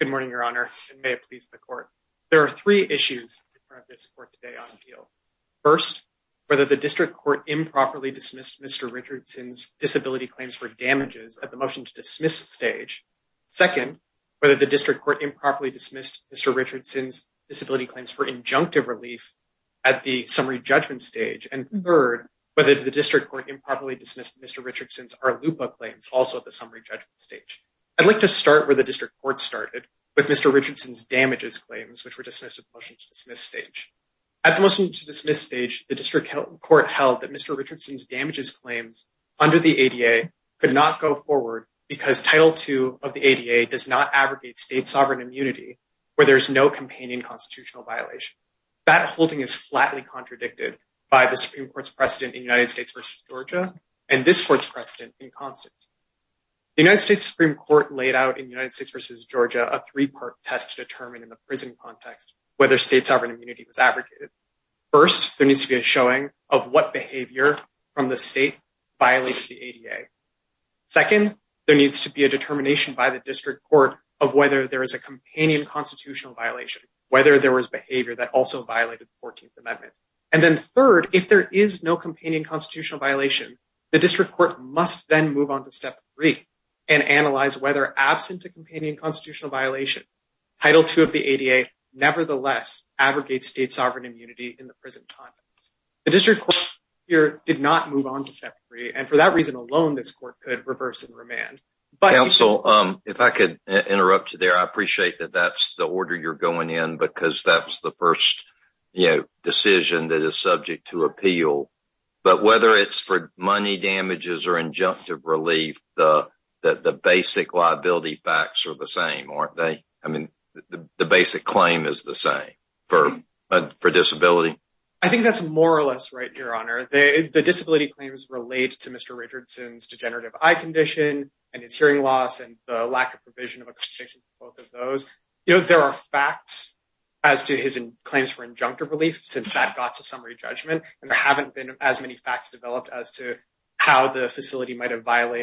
Good morning, Your Honor, and may it please the Court. There are three issues in front of this Court today on appeal. First, whether the District Court improperly dismissed Mr. Richardson's disability claims for damages at the Motion to Dismiss stage. Second, whether the District Court improperly dismissed Mr. Richardson's disability claims for injunctive relief at the Summary Judgment stage. And third, whether the District Court improperly dismissed Mr. Richardson's ARLUPA claims also at the Summary Judgment stage. I'd like to start where the District Court started, with Mr. District Court held that Mr. Richardson's damages claims under the ADA could not go forward because Title II of the ADA does not abrogate state sovereign immunity where there is no companion constitutional violation. That holding is flatly contradicted by the Supreme Court's precedent in United States v. Georgia and this Court's precedent in Constance. The United States Supreme Court laid out in United States v. Georgia a three-part test to determine in the prison context whether state sovereign immunity was abrogated. First, there needs to be a showing of what behavior from the state violates the ADA. Second, there needs to be a determination by the District Court of whether there is a companion constitutional violation, whether there was behavior that also violated the 14th Amendment. And then third, if there is no companion constitutional violation, the District Court must then move on to step three and analyze whether, absent a companion constitutional violation, Title II of the ADA nevertheless abrogates state sovereign immunity in the present context. The District Court here did not move on to step three and for that reason alone, this Court could reverse and remand. Counsel, if I could interrupt you there, I appreciate that that's the order you're going in because that's the first, you know, decision that is subject to appeal. But whether it's for money damages or injunctive relief, the basic liability facts are the same, aren't they? I mean, the basic claim is the same for disability. I think that's more or less right, Your Honor. The disability claims relate to Mr. Richardson's degenerative eye condition and his hearing loss and the lack of provision of a condition for both of those. You know, there are facts as to his claims for injunctive relief since that got to summary judgment and there haven't been as many facts developed as to how the facility might have But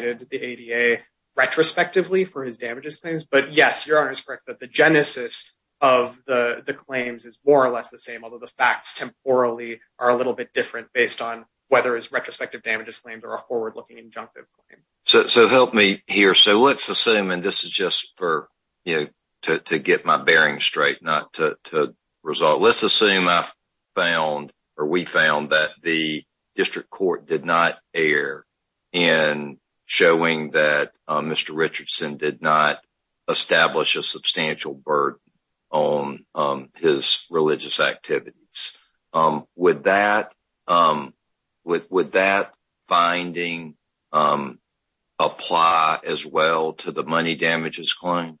yes, Your Honor is correct that the genesis of the claims is more or less the same, although the facts temporally are a little bit different based on whether it's retrospective damages claims or a forward-looking injunctive claim. So help me here. So let's assume, and this is just for, you know, to get my bearings straight, not to result. Let's assume I found or we found that the district court did not err in showing that Mr. Richardson did not establish a substantial burden on his religious activities. Would that finding apply as well to the money damages claim?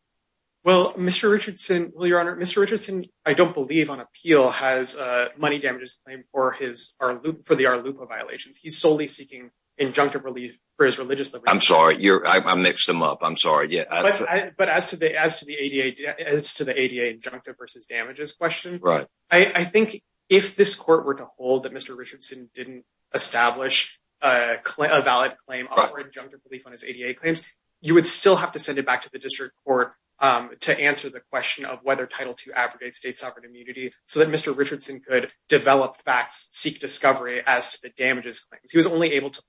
Well, Mr. Richardson, well, Your Honor, Mr. Richardson, I don't believe on appeal, has a money damages claim for his loop for the our loop of violations. He's solely seeking injunctive relief for his religious. I'm sorry, you're I mixed them up. I'm sorry. Yeah, but as to the as to the ADA, as to the ADA injunctive versus damages question, right? I think if this court were to hold that Mr. Richardson didn't establish a valid claim or injunctive relief on his ADA claims, you would still have to send it back to the district court to answer the question of whether title to aggregate state sovereign immunity so that Mr. Richardson could develop facts, seek discovery as to the damages claims. He was only able to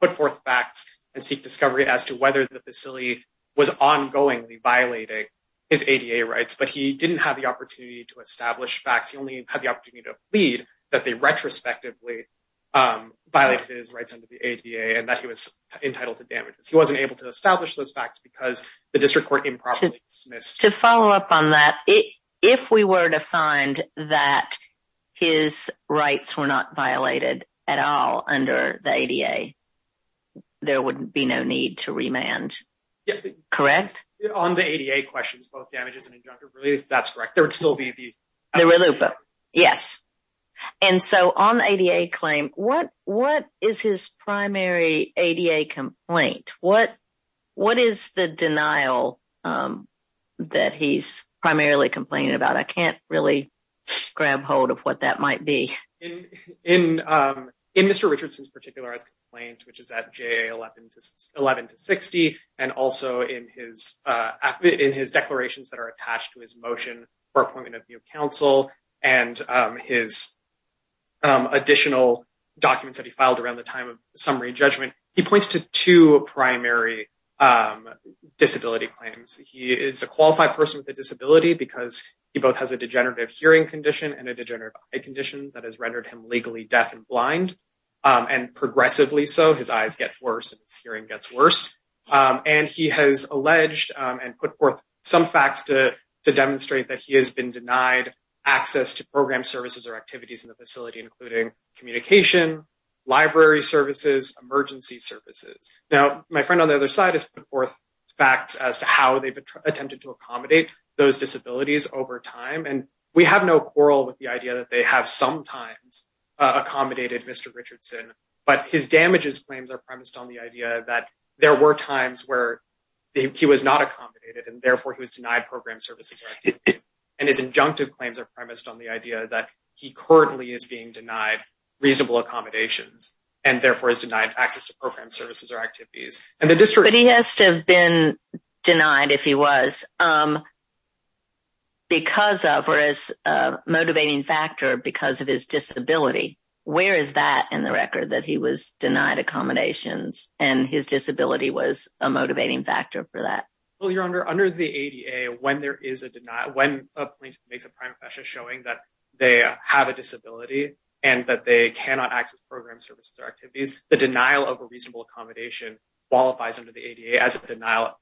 put forth facts and seek discovery as to whether the facility was ongoing violating his ADA rights, but he didn't have the opportunity to establish facts. He only had the opportunity to plead that they retrospectively violated his rights under the ADA and that he was entitled to to follow up on that. If we were to find that his rights were not violated at all under the ADA, there would be no need to remand correct on the ADA questions, both damages and injunctive relief. That's correct. There would still be the loop. Yes. And so on the ADA claim, what what is his denial that he's primarily complaining about? I can't really grab hold of what that might be. In Mr. Richardson's particular complaint, which is at JA 11 to 60, and also in his declarations that are attached to his motion for appointment of counsel and his additional documents that he filed around the time of summary judgment, he points to two primary disability claims. He is a qualified person with a disability because he both has a degenerative hearing condition and a degenerative eye condition that has rendered him legally deaf and blind, and progressively so. His eyes get worse and his hearing gets worse. And he has alleged and put forth some facts to demonstrate that he has been denied access to program services or activities in the facility, including communication, library services, emergency services. Now, my friend on the other side has put forth facts as to how they've attempted to accommodate those disabilities over time. And we have no quarrel with the idea that they have sometimes accommodated Mr. Richardson, but his damages claims are premised on the idea that there were times where he was not accommodated and therefore he was denied program services and his injunctive claims are premised on the idea that he currently is being denied access to program services or activities. But he has to have been denied, if he was, because of or as a motivating factor because of his disability. Where is that in the record, that he was denied accommodations and his disability was a motivating factor for that? Well, Your Honor, under the ADA, when there is a denial, when a plaintiff makes a confession showing that they have a disability and that they cannot access program services or activities, the denial of a reasonable accommodation qualifies under the ADA as a denial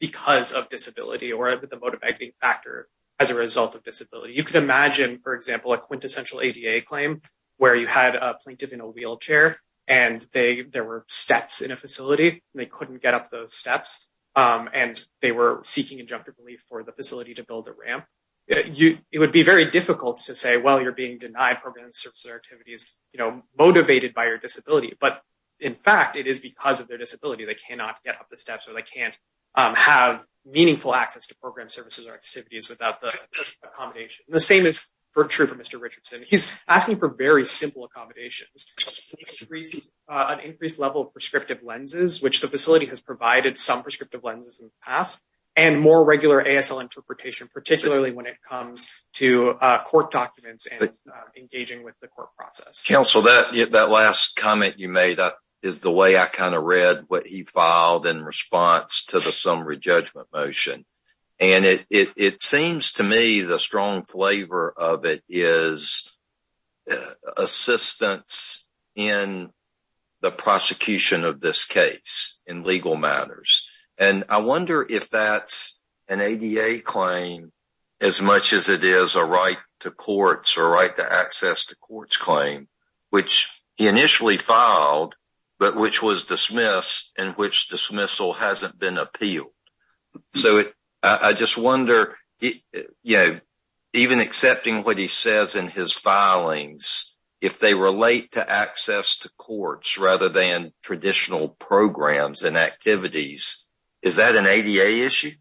because of disability or the motivating factor as a result of disability. You could imagine, for example, a quintessential ADA claim where you had a plaintiff in a wheelchair and there were steps in a facility and they couldn't get up those steps and they were seeking injunctive relief for the facility to build a ramp. It would be very difficult to say, well, you're being denied program services or disability. But in fact, it is because of their disability they cannot get up the steps or they can't have meaningful access to program services or activities without the accommodation. The same is true for Mr. Richardson. He's asking for very simple accommodations, an increased level of prescriptive lenses, which the facility has provided some prescriptive lenses in the past, and more regular ASL interpretation, particularly when it comes to court documents and engaging with the court process. Counsel, that last comment you made is the way I kind of read what he filed in response to the summary judgment motion. It seems to me the strong flavor of it is assistance in the prosecution of this case in legal matters. I wonder if that's an ADA claim as much as it is a right to courts or right to access to courts claim, which he initially filed but which was dismissed and which dismissal hasn't been appealed. So I just wonder, you know, even accepting what he says in his filings, if they relate to access to courts rather than traditional programs and activities, is that an ADA issue?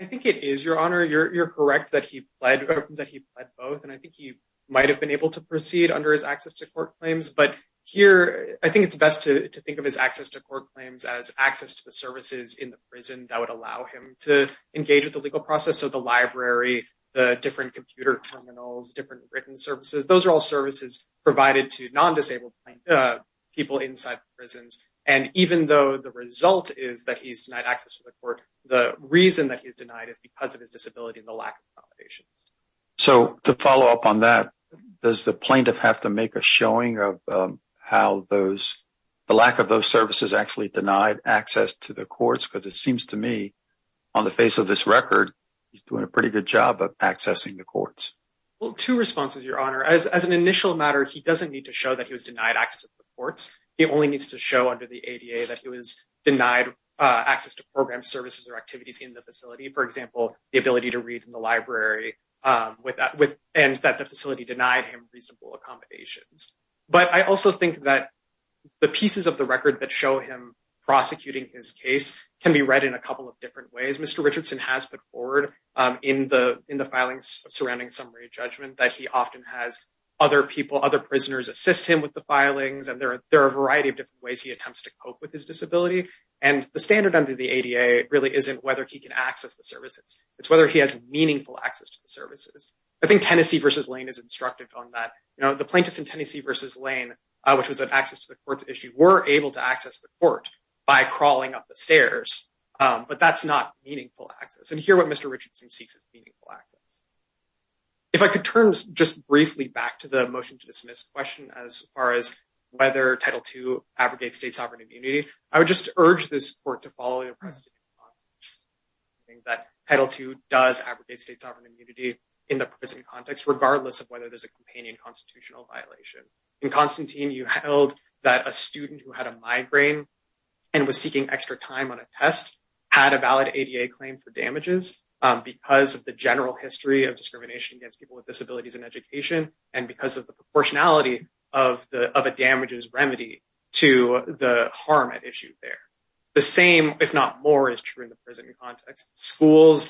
I think it is, Your Honor. You're correct that he pled both, and I think he might have been able to proceed under his access to court claims. But here, I think it's best to think of his access to court claims as access to the services in the prison that would allow him to engage with the legal process of the library, the different computer terminals, different written services. Those are all services provided to non-disabled people inside the prisons. And even though the result is that he's denied access to the court, the reason that he's denied is because of his disability and the lack of accommodations. So to follow up on that, does the plaintiff have to make a showing of how the lack of those services actually denied access to the courts? Because it seems to me, on the face of this record, he's doing a pretty good job of accessing the courts. Well, two responses, Your Honor. As an initial matter, he doesn't need to show that he was denied access to programs, services, or activities in the facility. For example, the ability to read in the library, and that the facility denied him reasonable accommodations. But I also think that the pieces of the record that show him prosecuting his case can be read in a couple of different ways. Mr. Richardson has put forward in the filings surrounding summary judgment that he often has other people, other prisoners assist him with the filings, and there are a variety of different ways he attempts to cope with his disability. And the standard under the ADA really isn't whether he can access the services. It's whether he has meaningful access to the services. I think Tennessee v. Lane is instructive on that. The plaintiffs in Tennessee v. Lane, which was an access to the courts issue, were able to access the court by crawling up the stairs. But that's not meaningful access. And here what Mr. Richardson seeks is meaningful access. If I could turn just briefly back to the motion to dismiss question as far as whether Title II abrogates state sovereign immunity, I would just urge this court to follow the preceding process. Title II does abrogate state sovereign immunity in the prison context, regardless of whether there's a companion constitutional violation. In Constantine, you held that a student who had a migraine and was seeking extra time on a test had a valid ADA claim for damages because of the general history of discrimination against people with disabilities. The same, if not more, is true in the prison context. Schools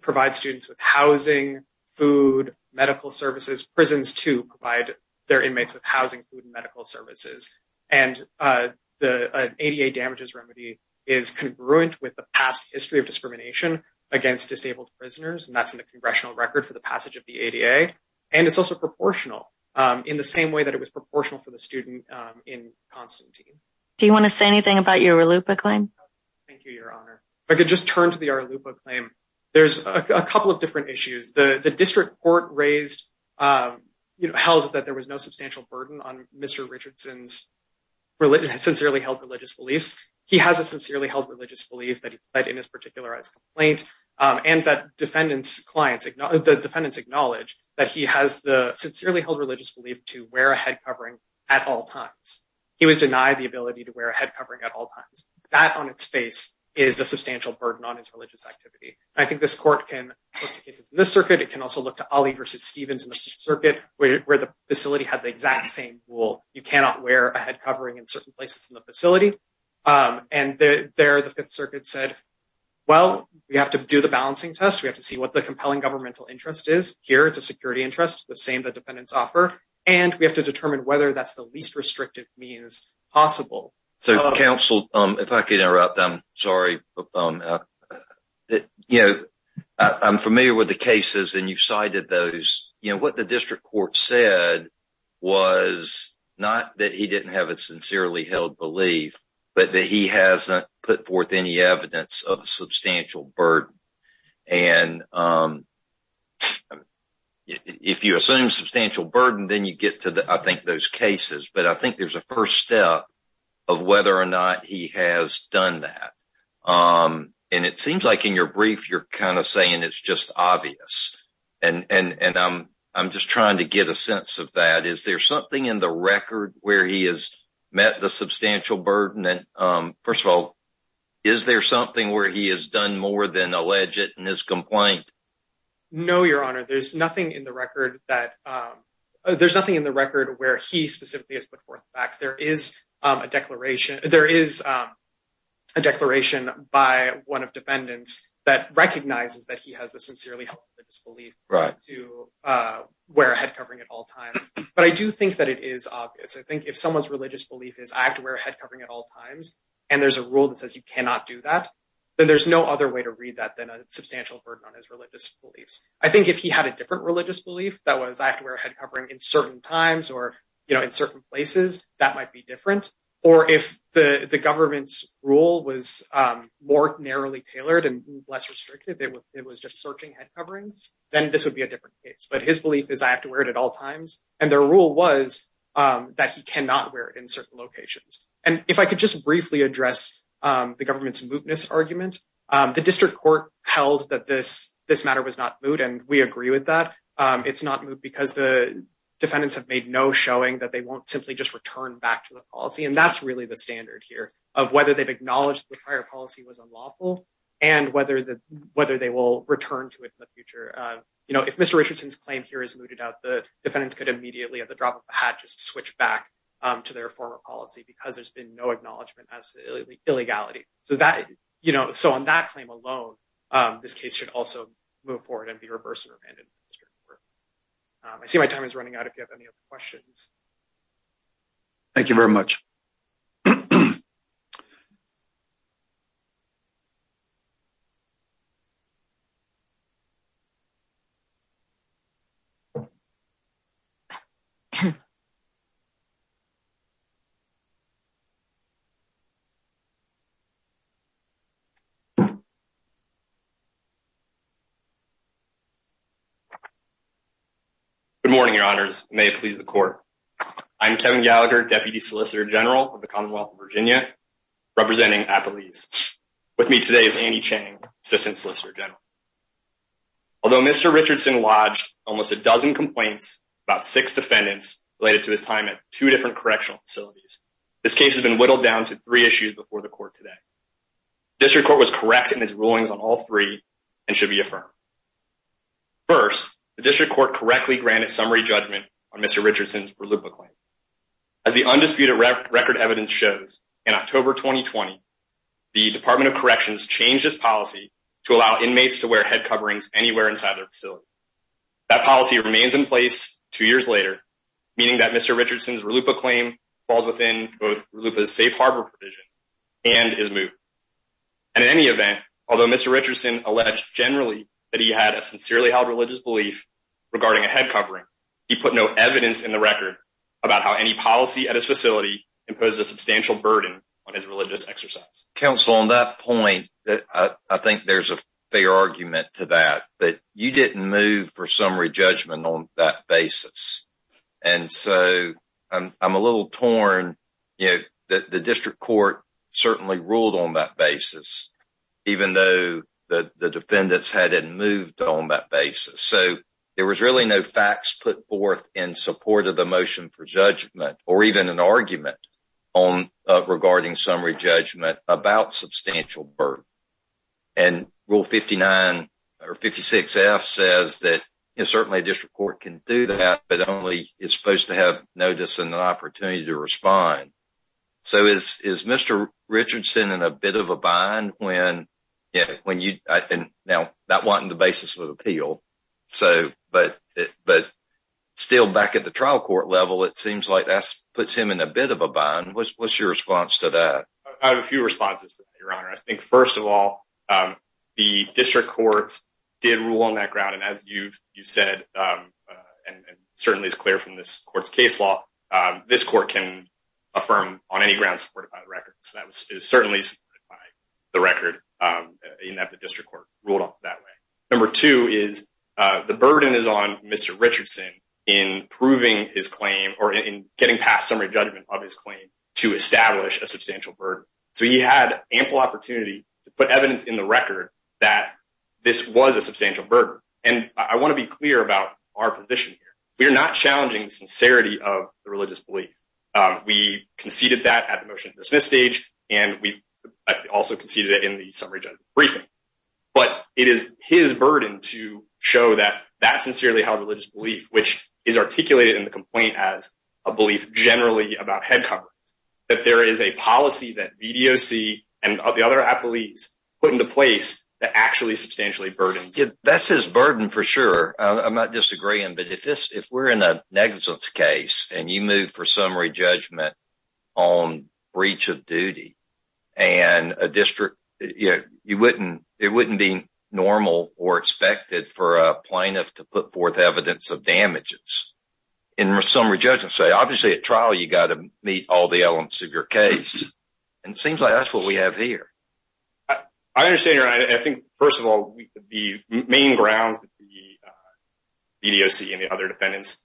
provide students with housing, food, medical services. Prisons, too, provide their inmates with housing, food, and medical services. And the ADA damages remedy is congruent with the past history of discrimination against disabled prisoners. And that's in the congressional record for the passage of the ADA. And it's also proportional in the same way that it was proportional for the student in Constantine. Do you want to say anything about your RLUIPA claim? Thank you, Your Honor. If I could just turn to the RLUIPA claim. There's a couple of different issues. The district court held that there was no substantial burden on Mr. Richardson's sincerely held religious beliefs. He has a sincerely held religious belief that he has the sincerely held religious belief to wear a head covering at all times. He was denied the ability to wear a head covering at all times. That on its face is a substantial burden on his religious activity. I think this court can look to cases in this circuit. It can also look to Ali versus Stevens in the circuit where the facility had the exact same rule. You cannot wear a head covering in certain places in the facility. And there the Fifth Circuit said, well, we have to do the balancing test. We have to see what the compelling governmental interest is. Here it's a security interest, the same the defendants offer. And we have to determine whether that's the least restrictive means possible. So counsel, if I could interrupt, I'm sorry. I'm familiar with the cases and you've cited those. What the district court said was not that he didn't have a sincerely held belief, but that he hasn't put forth any evidence of a substantial burden. And if you assume substantial burden, then you get to, I think, those cases. But I think there's a first step of whether or not he has done that. And it seems like in your brief, you're kind of saying it's just obvious. And I'm just trying to get a sense of that. Is there something in the record where he has met the substantial burden? First of all, is there something where he has done more than allege it in his complaint? No, Your Honor. There's nothing in the record where he specifically has put forth facts. There is a declaration by one of defendants that recognizes that he has a sincerely held belief to wear a head covering at all times. But I do think that it is obvious. I think if someone's and there's a rule that says you cannot do that, then there's no other way to read that than a substantial burden on his religious beliefs. I think if he had a different religious belief that was, I have to wear a head covering in certain times or in certain places, that might be different. Or if the government's rule was more narrowly tailored and less restrictive, it was just searching head coverings, then this would be a different case. But his belief is, I have to wear it at all times. And their rule was that he cannot wear it in certain locations. If I could just briefly address the government's mootness argument, the district court held that this matter was not moot. And we agree with that. It's not moot because the defendants have made no showing that they won't simply just return back to the policy. And that's really the standard here of whether they've acknowledged the prior policy was unlawful and whether they will return to it in the future. If Mr. Richardson's claim here is mooted out, the defendants could immediately at their former policy because there's been no acknowledgment as to the illegality. So on that claim alone, this case should also move forward and be reversed and remanded. I see my time is up. Good morning, your honors. May it please the court. I'm Kevin Gallagher, Deputy Solicitor General of the Commonwealth of Virginia, representing Appalese. With me today is Annie Chang, Assistant Solicitor General. Although Mr. Richardson lodged almost a dozen complaints about six defendants related to his time at two different correctional facilities, this case has been whittled down to three issues before the court today. District court was correct in his rulings on all three and should be affirmed. First, the district court correctly granted summary judgment on Mr. Richardson's Verluppa claim. As the undisputed record evidence shows, in October 2020, the Department of Corrections changed its policy to allow inmates to wear head coverings anywhere inside their facility. That policy remains in place two years later, meaning that Mr. Richardson's Verluppa claim falls within both Verluppa's safe harbor provision and his move. And in any event, although Mr. Richardson alleged generally that he had a sincerely held religious belief regarding a head covering, he put no evidence in the record about how any policy at his facility imposed a substantial burden on his religious exercise. Counsel, on that point, I think there's a fair argument to that, but you didn't move for summary judgment on that basis. And so I'm a little torn, you know, that the district court certainly ruled on that basis, even though the defendants hadn't moved on that basis. So there was really no facts put forth in support of the motion for judgment or even an argument on regarding summary judgment about substantial burden. And Rule 59 or 56F says that certainly a district court can do that, but only is supposed to have notice and an opportunity to respond. So is Mr. Richardson in a bit of a bind when, you know, not wanting the basis of appeal, but still back at the trial court level, it seems like that puts him in a bit of a bind. What's your response to that? I have a few responses, Your Honor. I think, first of all, the district court did rule on that ground. And as you've said, and certainly is clear from this court's case law, this court can affirm on any grounds supported by the record. So that was certainly by the record in that the district court ruled on it that way. Number two is the burden is on Mr. Richardson in proving his So he had ample opportunity to put evidence in the record that this was a substantial burden. And I want to be clear about our position here. We are not challenging the sincerity of the religious belief. We conceded that at the motion to dismiss stage, and we also conceded it in the summary judgment briefing. But it is his burden to show that that sincerely held religious belief, which is articulated in the complaint as a belief generally about head coverings, that there is a policy that BDOC and the other police put into place that actually substantially burdens. That's his burden for sure. I'm not disagreeing. But if this if we're in a negligence case, and you move for summary judgment on breach of duty, and a district, you wouldn't, it wouldn't be normal or expected for a plaintiff to put forth evidence of damages in summary judgment. So obviously, at trial, you got to meet all the elements of your case. And it seems like that's what we have here. I understand. I think, first of all, the main grounds that the BDOC and the other defendants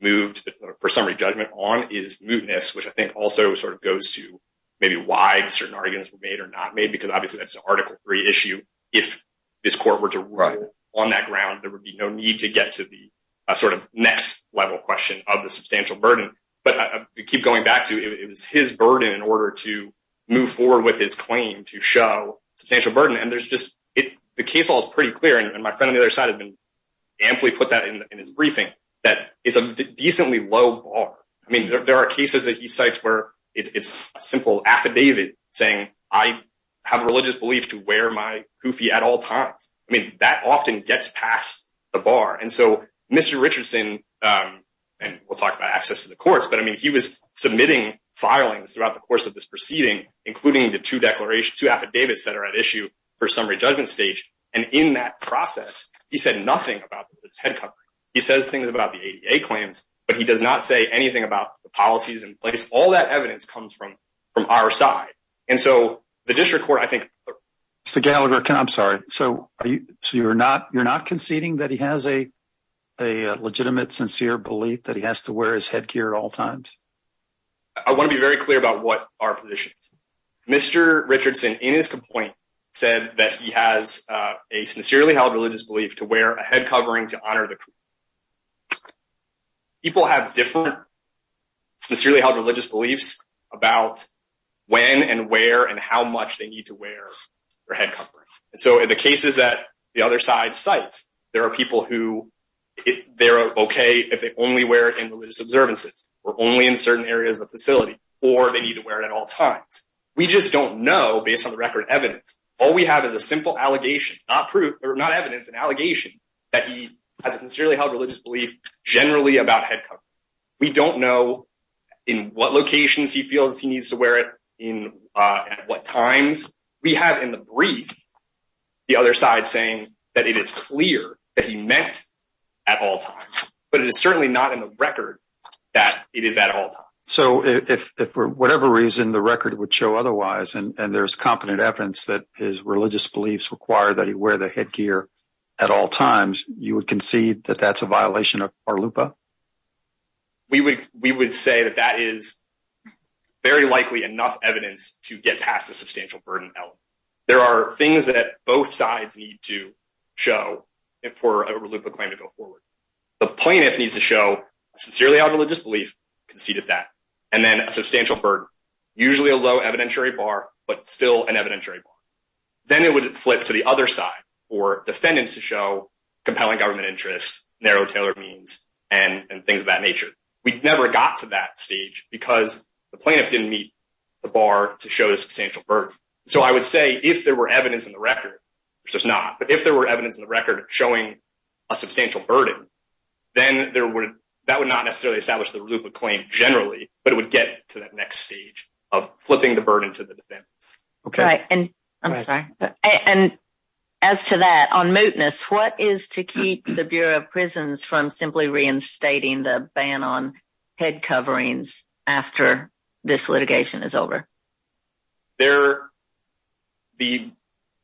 moved for summary judgment on is mootness, which I think also sort of goes to maybe why certain arguments were made or not made, because obviously, that's an article three issue. If this court were to write on that ground, there would be no need to get to the sort of next level question of the substantial burden. But I keep going back to it was his burden in order to move forward with his claim to show substantial burden. And there's just it, the case all is pretty clear. And my friend on the other side had been amply put that in his briefing, that is a decently low bar. I mean, there are cases that he cites where it's simple affidavit saying, I have a religious belief to wear my I mean, that often gets past the bar. And so, Mr. Richardson, and we'll talk about access to the courts, but I mean, he was submitting filings throughout the course of this proceeding, including the two declarations, two affidavits that are at issue for summary judgment stage. And in that process, he said nothing about the Ted company. He says things about the ADA claims, but he does not say anything about the policies in place. All that evidence comes from our side. And so, the district court, I think. Mr. Gallagher, I'm sorry. So, you're not conceding that he has a legitimate, sincere belief that he has to wear his headgear at all times? I want to be very clear about what our position is. Mr. Richardson, in his complaint, said that he has a sincerely held religious belief to wear a head covering to honor the when, and where, and how much they need to wear their head covering. And so, in the cases that the other side cites, there are people who, they're okay if they only wear it in religious observances, or only in certain areas of the facility, or they need to wear it at all times. We just don't know based on the record evidence. All we have is a simple allegation, not proof, or not evidence, an allegation that he has a sincerely held religious belief generally about head covering. We don't know in what locations he feels he needs to wear it, in what times. We have in the brief the other side saying that it is clear that he meant at all times. But it is certainly not in the record that it is at all times. So, if for whatever reason the record would show otherwise, and there's competent evidence that his religious beliefs require that he wear the headgear at all times, you would concede that that's a violation of our LUPA? We would say that that is very likely enough evidence to get past the substantial burden element. There are things that both sides need to show for a LUPA claim to go forward. The plaintiff needs to show a sincerely held religious belief, conceded that, and then a substantial burden, usually a low evidentiary bar, but still an evidentiary bar. Then it would flip to the other side for defendants to show compelling government interests, narrow tailored means, and things of that nature. We never got to that stage because the plaintiff didn't meet the bar to show the substantial burden. So, I would say if there were evidence in the record, which there's not, but if there were evidence in the record showing a substantial burden, then that would not necessarily establish the LUPA claim generally, but it would get to that next stage of flipping the burden to the defendants. Okay, and I'm sorry, and as to that, on mootness, what is to keep the Bureau of Prisons from simply reinstating the ban on head coverings after this litigation is over? There, the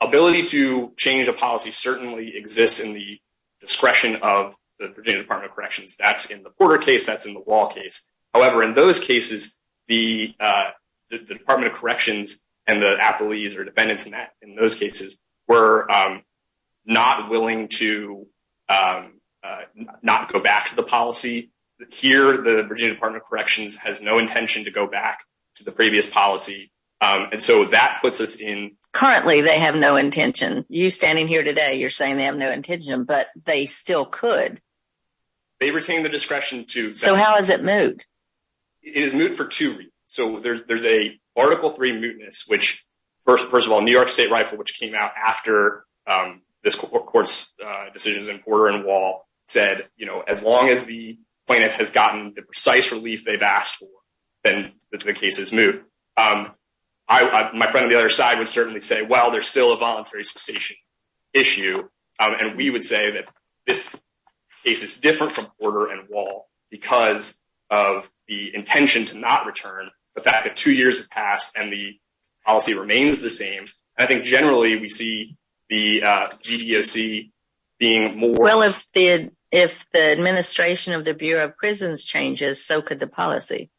ability to change a policy certainly exists in the discretion of the Virginia Department of Corrections. That's in the Porter case, that's in the Wall case. However, in those cases, the Department of Corrections and the appellees or defendants in that in those cases were not willing to not go back to the policy. Here, the Virginia Department of Corrections has no intention to go back to the previous policy, and so that puts us in. Currently, they have no intention. You standing here today, you're saying they have no intention, but they still could. They retain the So there's a Article 3 mootness, which first of all, New York State Rifle, which came out after this court's decisions in Porter and Wall said, you know, as long as the plaintiff has gotten the precise relief they've asked for, then the case is moot. My friend on the other side would certainly say, well, there's still a voluntary cessation issue, and we would say that this case is different from Porter and Wall because of the intention to not return the fact that two years have passed and the policy remains the same. I think generally, we see the GEOC being more. Well, if the administration of the Bureau of Prisons changes, so could the policy.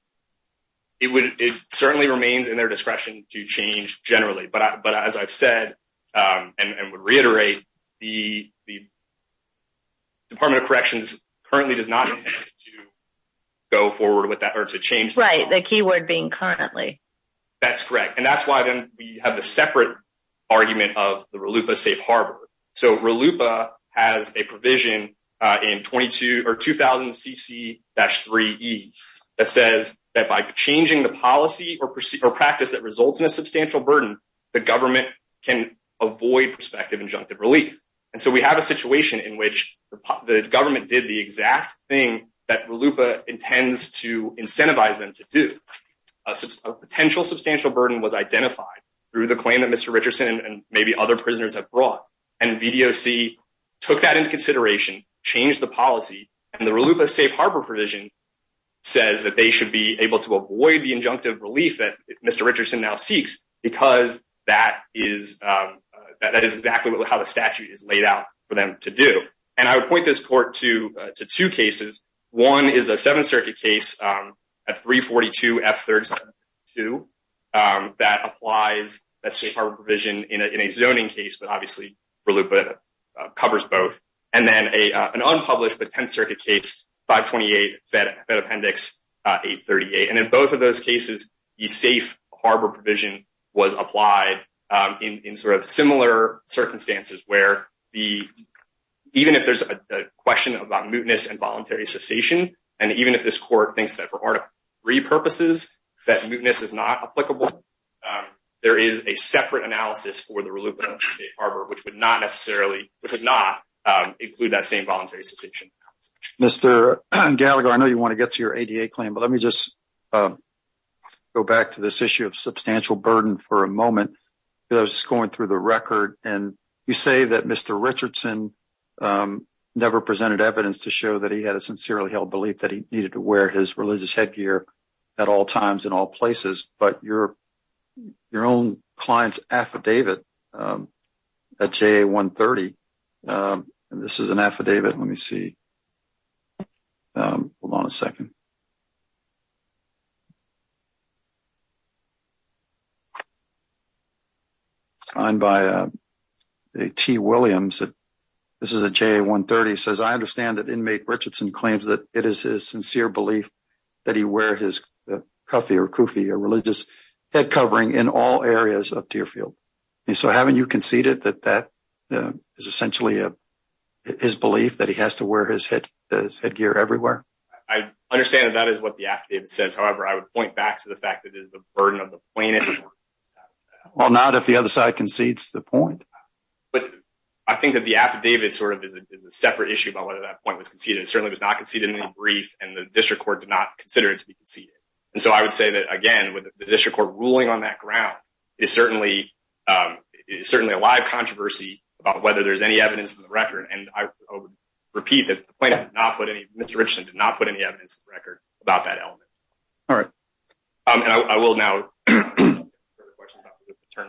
It would. It certainly remains in their discretion to change generally, but as I've said, and would reiterate, the Department of Corrections currently does not go forward with that or to change the keyword being currently. That's correct, and that's why then we have the separate argument of the RLUIPA safe harbor. So RLUIPA has a provision in 22 or 2000 CC-3E that says that by changing the policy or practice that results in a substantial burden, the government can avoid prospective injunctive relief. And so we have a situation in which the government did the exact thing that RLUIPA intends to incentivize them to do. A potential substantial burden was identified through the claim that Mr. Richardson and maybe other prisoners have brought, and VDOC took that into consideration, changed the policy, and the RLUIPA safe harbor provision says that they should able to avoid the injunctive relief that Mr. Richardson now seeks because that is exactly how the statute is laid out for them to do. And I would point this court to two cases. One is a Seventh Circuit case at 342 F-372 that applies that safe harbor provision in a zoning case, but obviously RLUIPA covers both. And then an unpublished but Tenth Circuit case, 528 Fed 838. And in both of those cases, the safe harbor provision was applied in sort of similar circumstances where even if there's a question about mootness and voluntary cessation, and even if this court thinks that for Article 3 purposes that mootness is not applicable, there is a separate analysis for the RLUIPA safe harbor which would not necessarily, which would not include that same voluntary cessation. Mr. Gallagher, I know you want to get to your ADA claim, but let me just go back to this issue of substantial burden for a moment. I was just going through the record, and you say that Mr. Richardson never presented evidence to show that he had a sincerely held belief that he needed to wear his religious headgear at all times in all places, but your report, hold on a second, signed by T. Williams, this is a JA-130, says, I understand that inmate Richardson claims that it is his sincere belief that he wear his cuffie or religious head covering in all areas of his headgear everywhere? I understand that that is what the affidavit says, however, I would point back to the fact that it is the burden of the plaintiff. Well, not if the other side concedes the point. But I think that the affidavit sort of is a separate issue about whether that point was conceded. It certainly was not conceded in any brief, and the district court did not consider it to be conceded. And so I would say that, again, with the district court ruling on that ground, it is certainly a live controversy about whether there's any evidence in the record. And I would repeat that the plaintiff did not put any, Mr. Richardson did not put any evidence in the record about that element. All right. I will now turn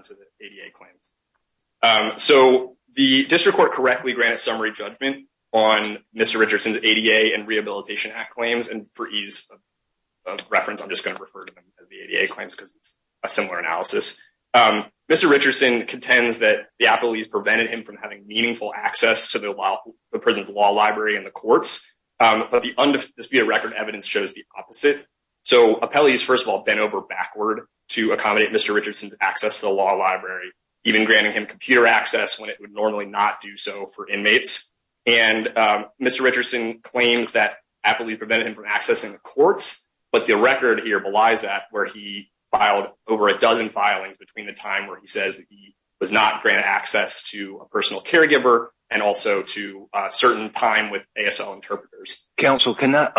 to the ADA claims. So the district court correctly granted summary judgment on Mr. Richardson's ADA and Rehabilitation Act claims, and for ease of reference, I'm just going to refer to them as the ADA claims because it's a similar analysis. Mr. Richardson contends that appellees prevented him from having meaningful access to the prison's law library and the courts, but the undisputed record evidence shows the opposite. So appellees, first of all, bent over backward to accommodate Mr. Richardson's access to the law library, even granting him computer access when it would normally not do so for inmates. And Mr. Richardson claims that appellees prevented him from accessing the courts, but the record here belies that, where he filed over a dozen filings between the time where he was not granted access to a personal caregiver and also to a certain time with ASL interpreters. Counsel, can I,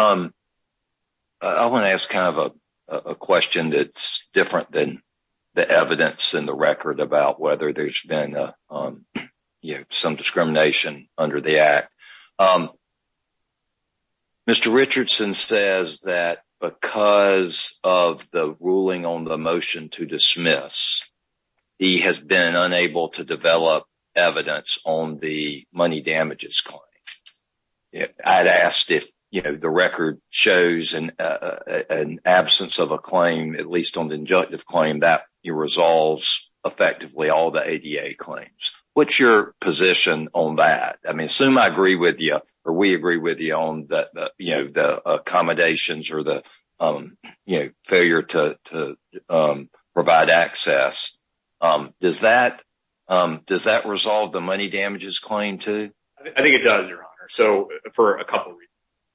I want to ask kind of a question that's different than the evidence in the record about whether there's been some discrimination under the act. Mr. Richardson says that because of the ruling on the motion to dismiss, he has been unable to develop evidence on the money damages claim. I'd asked if, you know, the record shows an absence of a claim, at least on the injunctive claim, that resolves effectively all the ADA claims. What's your position on that? I mean, assume I agree with you or we agree with you on the, you know, the accommodations or the, you know, failure to provide access. Does that resolve the money damages claim too? I think it does, your honor. So, for a couple reasons.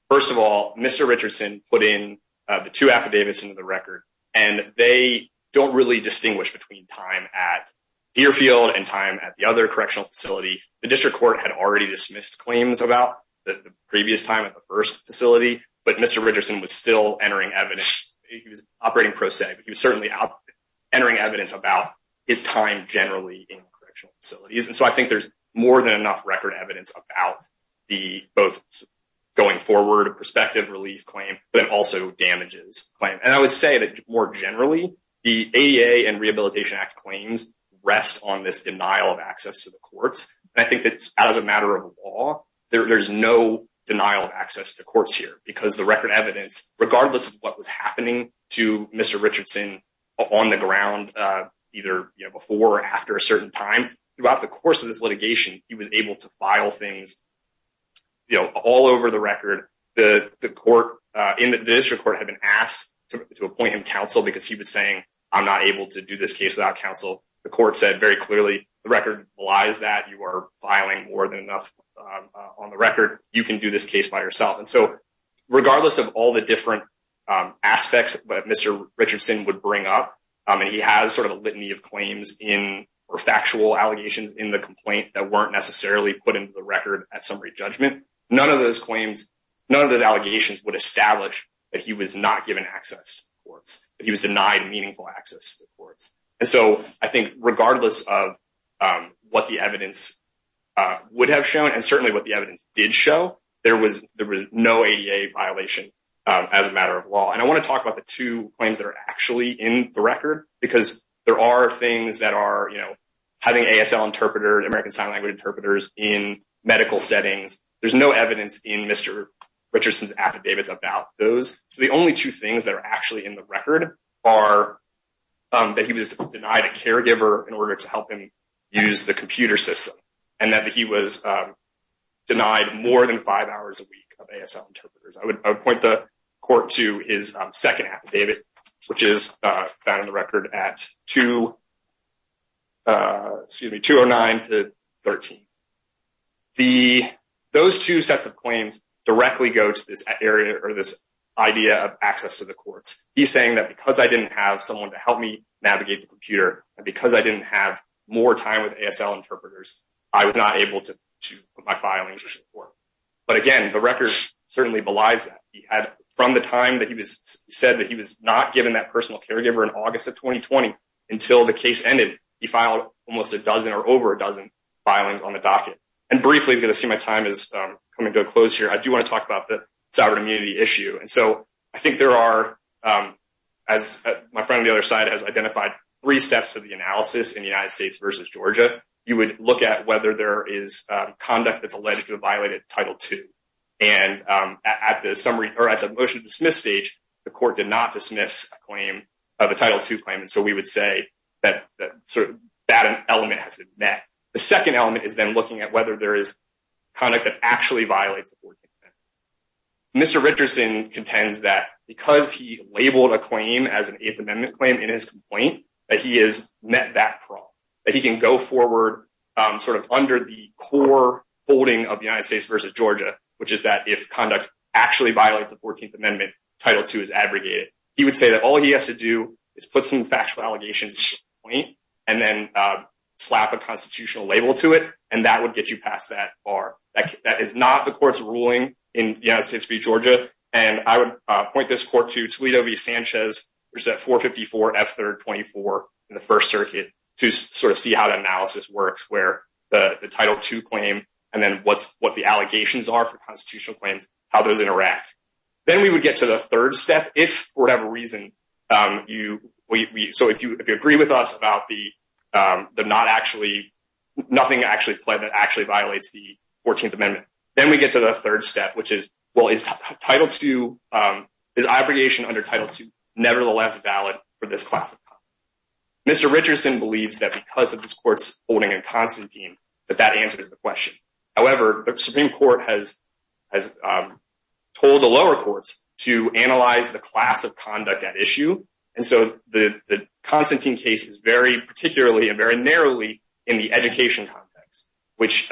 First of all, Mr. Richardson put in the two affidavits into the record and they don't really distinguish between time at Deerfield and time at the other correctional facility. The district court had already dismissed claims about the previous time at the first facility, but Mr. Richardson was still entering evidence. He was operating pro se, but he was certainly out entering evidence about his time generally in correctional facilities. And so I think there's more than enough record evidence about the both going forward perspective relief claim, but also damages claim. And I would say that more generally, the ADA and Rehabilitation Act claims rest on this denial of access to the law. There's no denial of access to courts here because the record evidence, regardless of what was happening to Mr. Richardson on the ground, either before or after a certain time, throughout the course of this litigation, he was able to file things, you know, all over the record. The court in the district court had been asked to appoint him counsel because he was saying, I'm not able to do this case without counsel. The court said very clearly, the record lies that you are filing more than enough on the record. You can do this case by yourself. And so regardless of all the different aspects that Mr. Richardson would bring up, and he has sort of a litany of claims in or factual allegations in the complaint that weren't necessarily put into the record at summary judgment, none of those claims, none of those allegations would establish that he was not given access to the courts, that he was denied meaningful access to the courts. And so I think regardless of what the evidence would have shown and certainly what the evidence did show, there was no ADA violation as a matter of law. And I want to talk about the two claims that are actually in the record because there are things that are, you know, having ASL interpreters, American Sign Language interpreters in medical settings, there's no evidence in Mr. Richardson's affidavits about those. So the only two things that are actually in the record are that he was denied a caregiver in order to help him use the computer system and that he was denied more than five hours a week of ASL interpreters. I would point the court to his second affidavit, which is found in the record at 209 to 13. Those two sets of claims directly go to this area or this idea of access to the courts. He's saying that because I didn't have someone to help me navigate the computer and I didn't have more time with ASL interpreters, I was not able to put my filings in court. But again, the record certainly belies that. He had, from the time that he was said that he was not given that personal caregiver in August of 2020 until the case ended, he filed almost a dozen or over a dozen filings on the docket. And briefly, because I see my time is coming to a close here, I do want to talk about the sovereign immunity issue. And so I think there are, as my friend on the other side has identified, three steps of the analysis in the United States versus Georgia. You would look at whether there is conduct that's alleged to have violated Title II. And at the motion to dismiss stage, the court did not dismiss the Title II claim. And so we would say that that element has been met. The second element is then looking at whether there is conduct that actually violates the 14th Amendment. Mr. Richardson contends that because he labeled a claim as an Eighth Amendment claim in his complaint, that he has met that problem, that he can go forward sort of under the core holding of the United States versus Georgia, which is that if conduct actually violates the 14th Amendment, Title II is abrogated. He would say that all he has to do is put some factual allegations in his complaint and then slap a constitutional label to it, and that would get you past that bar. That is not the court's ruling in the United States v. Georgia. And I would point this court to Toledo v. Sanchez, which is at 454 F3rd 24 in the First Circuit, to sort of see how the analysis works, where the Title II claim and then what the allegations are for constitutional claims, how those interact. Then we would get to the third step, if for whatever reason, so if you agree with us about the not actually, nothing actually violates the 14th Amendment, then we get to the third step, which is, well, is abrogation under Title II nevertheless valid for this class of conduct? Mr. Richardson believes that because of this court's holding in Constantine, that that answers the question. However, the Supreme Court has told the lower courts to analyze the class of conduct at issue, and so the Constantine case is very particularly and very narrowly in the education context, which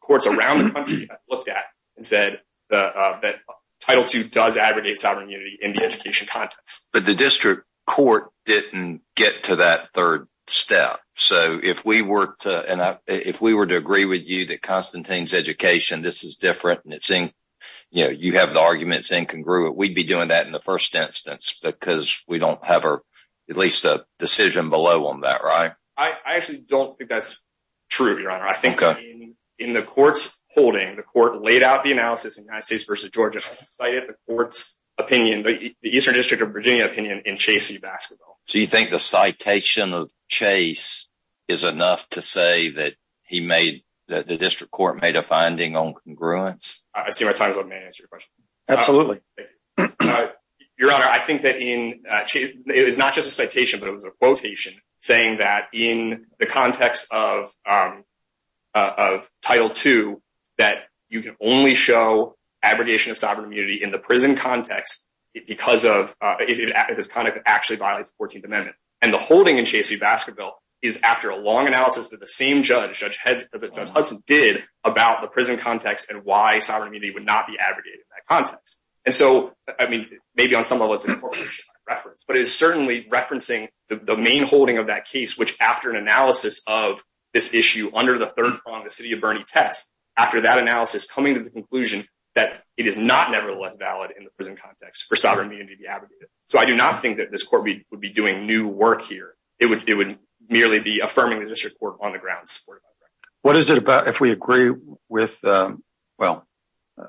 courts around the country have looked at and said that Title II does aggregate sovereign unity in the education context. But the district court didn't get to that third step, so if we were to agree with you that Constantine's education, this is different, and it's in, you know, you have the arguments incongruent, we'd be doing that in the first instance because we don't have at least a decision below on that, right? I actually don't think that's true, Your Honor. I think in the court's holding, the court laid out the analysis in United States versus Georgia, cited the court's opinion, the Eastern District of Virginia opinion in Chasey Basketball. So you think the citation of Chase is enough to say that he made, that the district court made a finding on congruence? I see my time is up. May I answer your question? Absolutely. Your Honor, I think that in, it was not just a citation, but it was a quotation saying that in the context of Title II that you can only show aggregation of sovereign immunity in the prison context because of, if his conduct actually violates the 14th Amendment. And the holding in Chasey Basketball is after a long analysis that the same judge, Judge Hudson, did about the prison context and why sovereign unity would not be aggregated in that context. And so, I mean, maybe on some level it's a correlation, but it is certainly referencing the main holding of that case, which after an analysis of this issue under the third prong, the city of Bernie test, after that analysis coming to the conclusion that it is not nevertheless valid in the prison context for sovereign immunity to be aggregated. So I do not think that this court would be doing new work here. It would merely be affirming the district court on the ground. What is it about if we agree with, well,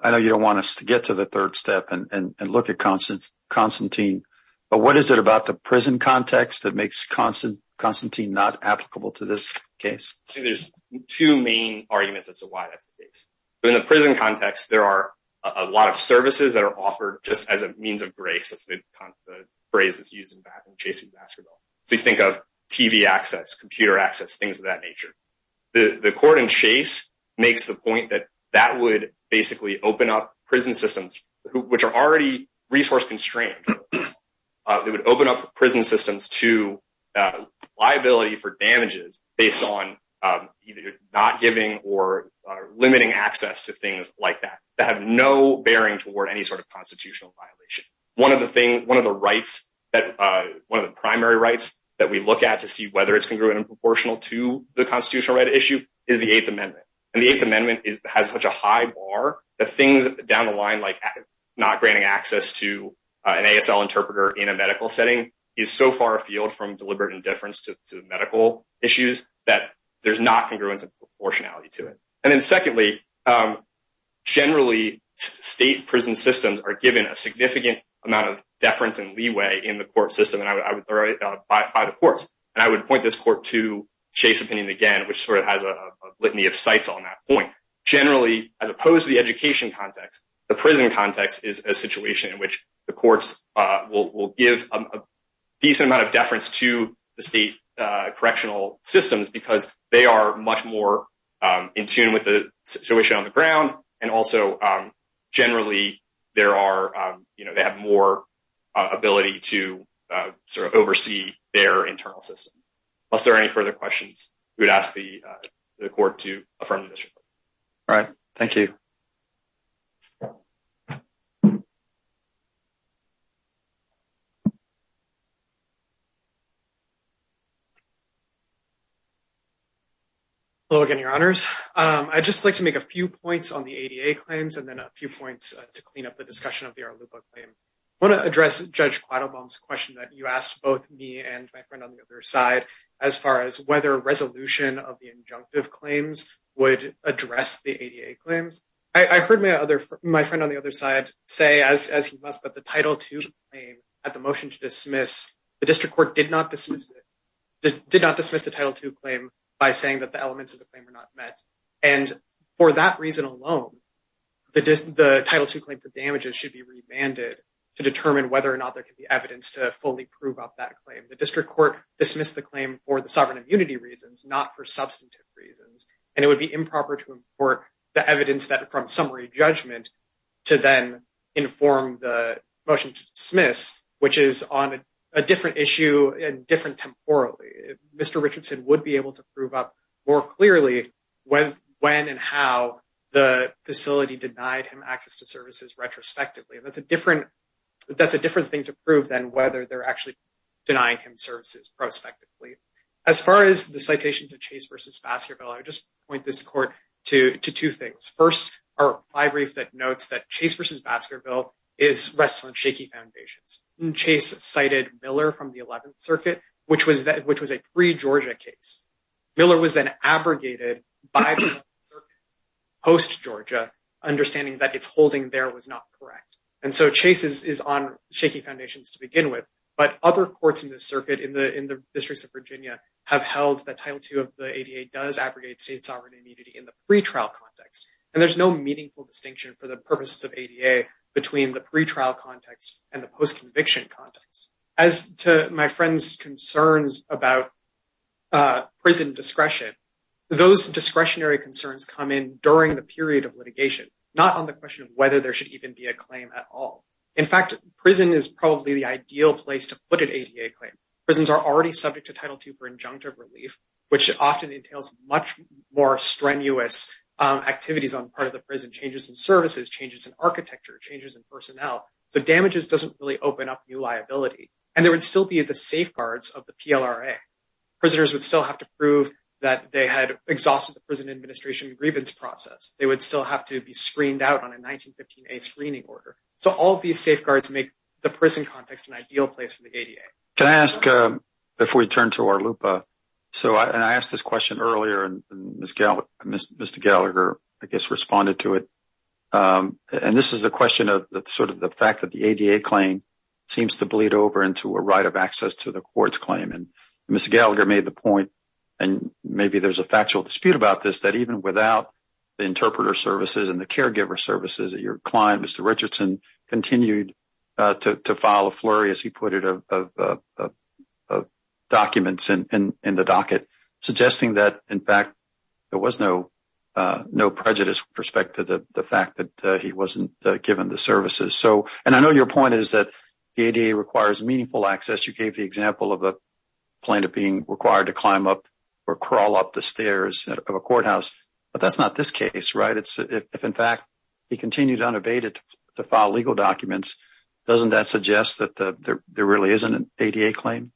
I know you don't want us to get to the third step and look at Constantine, but what is it about the prison context that makes Constantine not applicable to this case? I think there's two main arguments as to why that's the case. In the prison context, there are a lot of services that are offered just as a means of grace, the phrase that's used in Chasey Basketball. So you think of TV access, computer access, things of that nature. The court in Chase makes the point that that would basically open up prison systems, which are already resource constrained. It would open up prison systems to liability for damages based on either not giving or limiting access to things like that, that have no bearing toward any sort of constitutional violation. One of the primary rights that we look at to see whether it's congruent and proportional to the constitutional right issue is the eighth amendment. And the eighth amendment has such a high bar that things down the line like not granting access to an ASL interpreter in a medical setting is so far afield from deliberate indifference to medical issues that there's not congruence and proportionality to it. And then secondly, generally, state prison systems are given a significant amount of deference and leeway in the court system by the courts. And I would point this court to Chase opinion again, which sort of has a litany of sites on that point. Generally, as opposed to the education context, the prison context is a situation in which the courts will give a decent amount of deference to the state correctional systems because they are much more in tune with the situation on the ground. And also, generally, they have more ability to sort of oversee their internal systems. Unless there are any further questions, we would ask the court to affirm the issue. All right. Thank you. Hello again, your honors. I'd just like to make a few points on the ADA claims and then a few points to clean up the discussion of the Arlupa claim. I want to address Judge Quattlebaum's question that you asked both me and my friend on the other side, as far as whether a resolution of the injunctive claims would address the ADA claims. I heard my friend on the other side say, as he must, that the Title II claim at the motion to dismiss, the district court did not dismiss the Title II claim by saying that the elements of the claim are not met. And for that reason alone, the Title II claim for damages should be remanded to determine whether or not there is evidence to fully prove up that claim. The district court dismissed the claim for the sovereign immunity reasons, not for substantive reasons. And it would be improper to import the evidence from summary judgment to then inform the motion to dismiss, which is on a different issue and different temporally. Mr. Richardson would be able to prove up more clearly when and how the facility denied him access to services retrospectively. That's a different thing to whether they're actually denying him services prospectively. As far as the citation to Chase v. Baskerville, I would just point this court to two things. First, a brief that notes that Chase v. Baskerville rests on shaky foundations. Chase cited Miller from the 11th Circuit, which was a pre-Georgia case. Miller was then abrogated by the 11th Circuit post-Georgia, understanding that its holding there was not correct. And so Chase is on shaky foundations to begin with. But other courts in this circuit in the districts of Virginia have held that Title II of the ADA does abrogate state sovereign immunity in the pretrial context. And there's no meaningful distinction for the purposes of ADA between the pretrial context and the post-conviction context. As to my friend's concerns about prison discretion, those discretionary concerns come in the period of litigation, not on the question of whether there should even be a claim at all. In fact, prison is probably the ideal place to put an ADA claim. Prisons are already subject to Title II for injunctive relief, which often entails much more strenuous activities on part of the prison. Changes in services, changes in architecture, changes in personnel. So damages doesn't really open up new liability. And there would still be the safeguards of the PLRA. Prisoners would still have to prove that they had exhausted the prison administration grievance process. They would still have to be screened out on a 1915A screening order. So all these safeguards make the prison context an ideal place for the ADA. Can I ask, before we turn to our lupa, so I asked this question earlier and Mr. Gallagher, I guess, responded to it. And this is the question of sort of the fact that the ADA claim seems to bleed over into a right of access to the court's claim. And Mr. Gallagher made the point, and maybe there's a factual dispute about this, that even without the interpreter services and the caregiver services that your client, Mr. Richardson, continued to file a flurry, as he put it, of documents in the docket, suggesting that, in fact, there was no prejudice with respect to the fact that he wasn't given the services. So, and I know your point is that the ADA requires meaningful access. You gave the example of a crawl up the stairs of a courthouse. But that's not this case, right? If, in fact, he continued unabated to file legal documents, doesn't that suggest that there really isn't an ADA claim?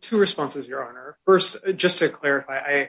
Two responses, Your Honor. First, just to clarify,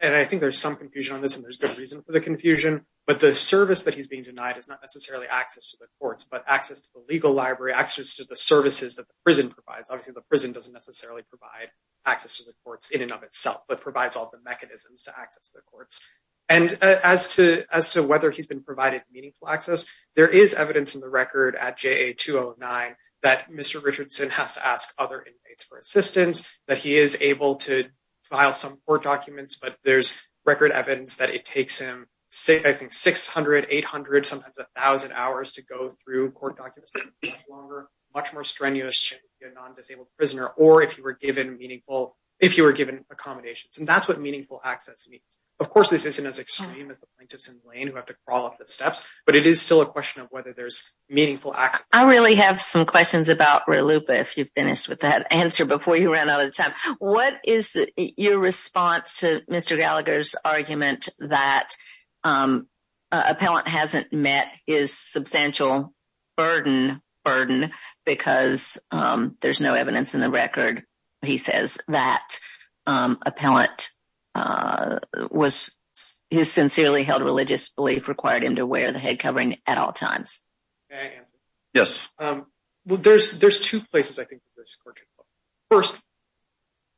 and I think there's some confusion on this, and there's good reason for the confusion, but the service that he's being denied is not necessarily access to the courts, but access to the legal library, access to the services that the prison provides. Obviously, the prison doesn't necessarily provide access to the courts in and of itself, but provides all the mechanisms to access the courts. And as to whether he's been provided meaningful access, there is evidence in the record at JA 209 that Mr. Richardson has to ask other inmates for assistance, that he is able to file some court documents, but there's record evidence that it takes him, I think, 600, 800, sometimes 1,000 hours to go through court documents, much more strenuous if you're a non-disabled prisoner, or if you were given accommodations. And that's what meaningful access means. Of course, this isn't as extreme as the plaintiffs in the lane who have to crawl up the steps, but it is still a question of whether there's meaningful access. I really have some questions about RLUIPA, if you've finished with that answer before you ran out of time. What is your response to Mr. Gallagher's argument that appellant hasn't met his substantial burden, because there's no evidence in the record, he says, that appellant was, his sincerely held religious belief required him to wear the head covering at all times? May I answer? Yes. Well, there's two places, I think. First,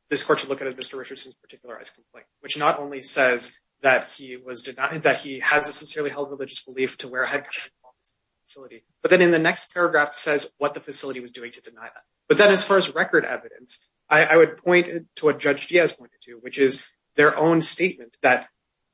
this court should look at Mr. Richardson's particularized complaint, which not only says that he was denied, that he has a sincerely held religious belief to wear a head covering at all times in the facility, but then in the next paragraph says what the facility was doing to deny that. But then as far as record evidence, I would point to what Judge Diaz pointed to, which is their own statement that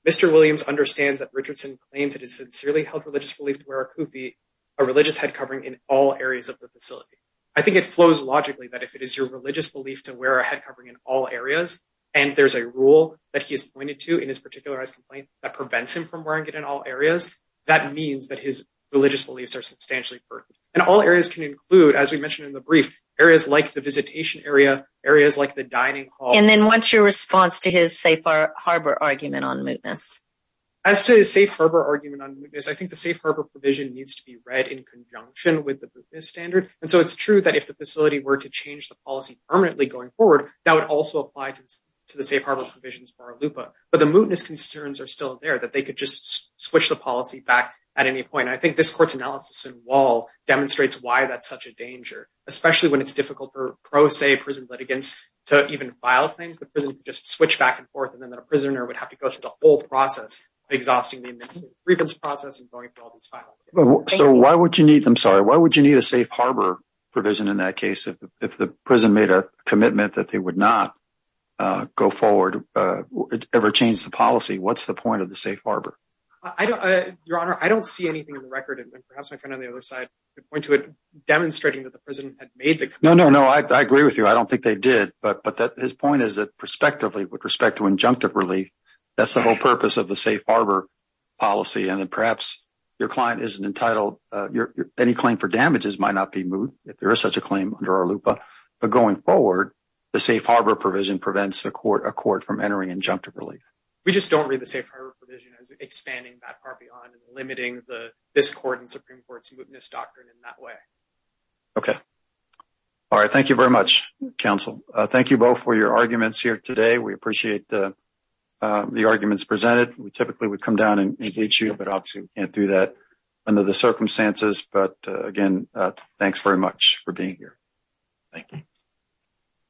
Mr. Williams understands that Richardson claims that he has sincerely held religious belief to wear a kufi, a religious head covering, in all areas of the facility. I think it flows logically that if it is your religious belief to wear a head covering in all areas, and there's a rule that he has pointed to in his particularized complaint that prevents him from wearing it in all areas, that means that his religious beliefs are substantially burdened. And all areas can include, as we mentioned in the brief, areas like the visitation area, areas like the dining hall. And then what's your response to his safe harbor argument on mootness? As to his safe harbor argument on mootness, I think the safe harbor provision needs to be read in conjunction with the standard. And so it's true that if the facility were to change the policy permanently going forward, that would also apply to the safe harbor provisions for ALUPA. But the mootness concerns are still there, that they could just switch the policy back at any point. I think this court's analysis in Wall demonstrates why that's such a danger, especially when it's difficult for pro se prison litigants to even file claims. The prison could just switch back and forth, and then the prisoner would have to go through the whole process of exhausting the remittance process and going through all these files. So why would you need, I'm sorry, why would you need a safe harbor provision in that case if the prison made a commitment that they would not go forward, ever change the policy? What's the point of the safe harbor? Your Honor, I don't see anything in the record, and perhaps my friend on the other side could point to it demonstrating that the prison had made the commitment. No, no, no. I agree with you. I don't think they did. But his point is that prospectively, with respect to injunctive relief, that's the whole purpose of the safe harbor policy. And then perhaps your client isn't entitled, any claim for damages might not be moot if there is such a claim under our LUPA. But going forward, the safe harbor provision prevents a court from entering injunctive relief. We just don't read the safe harbor provision as expanding that far beyond and limiting this court and Supreme Court's mootness doctrine in that way. Okay. All right. Thank you very much, counsel. Thank you both for your arguments here today. We appreciate the arguments presented. We typically would come down and engage you, but obviously we can't do that under the circumstances. But again, thanks very much for being here. Thank you.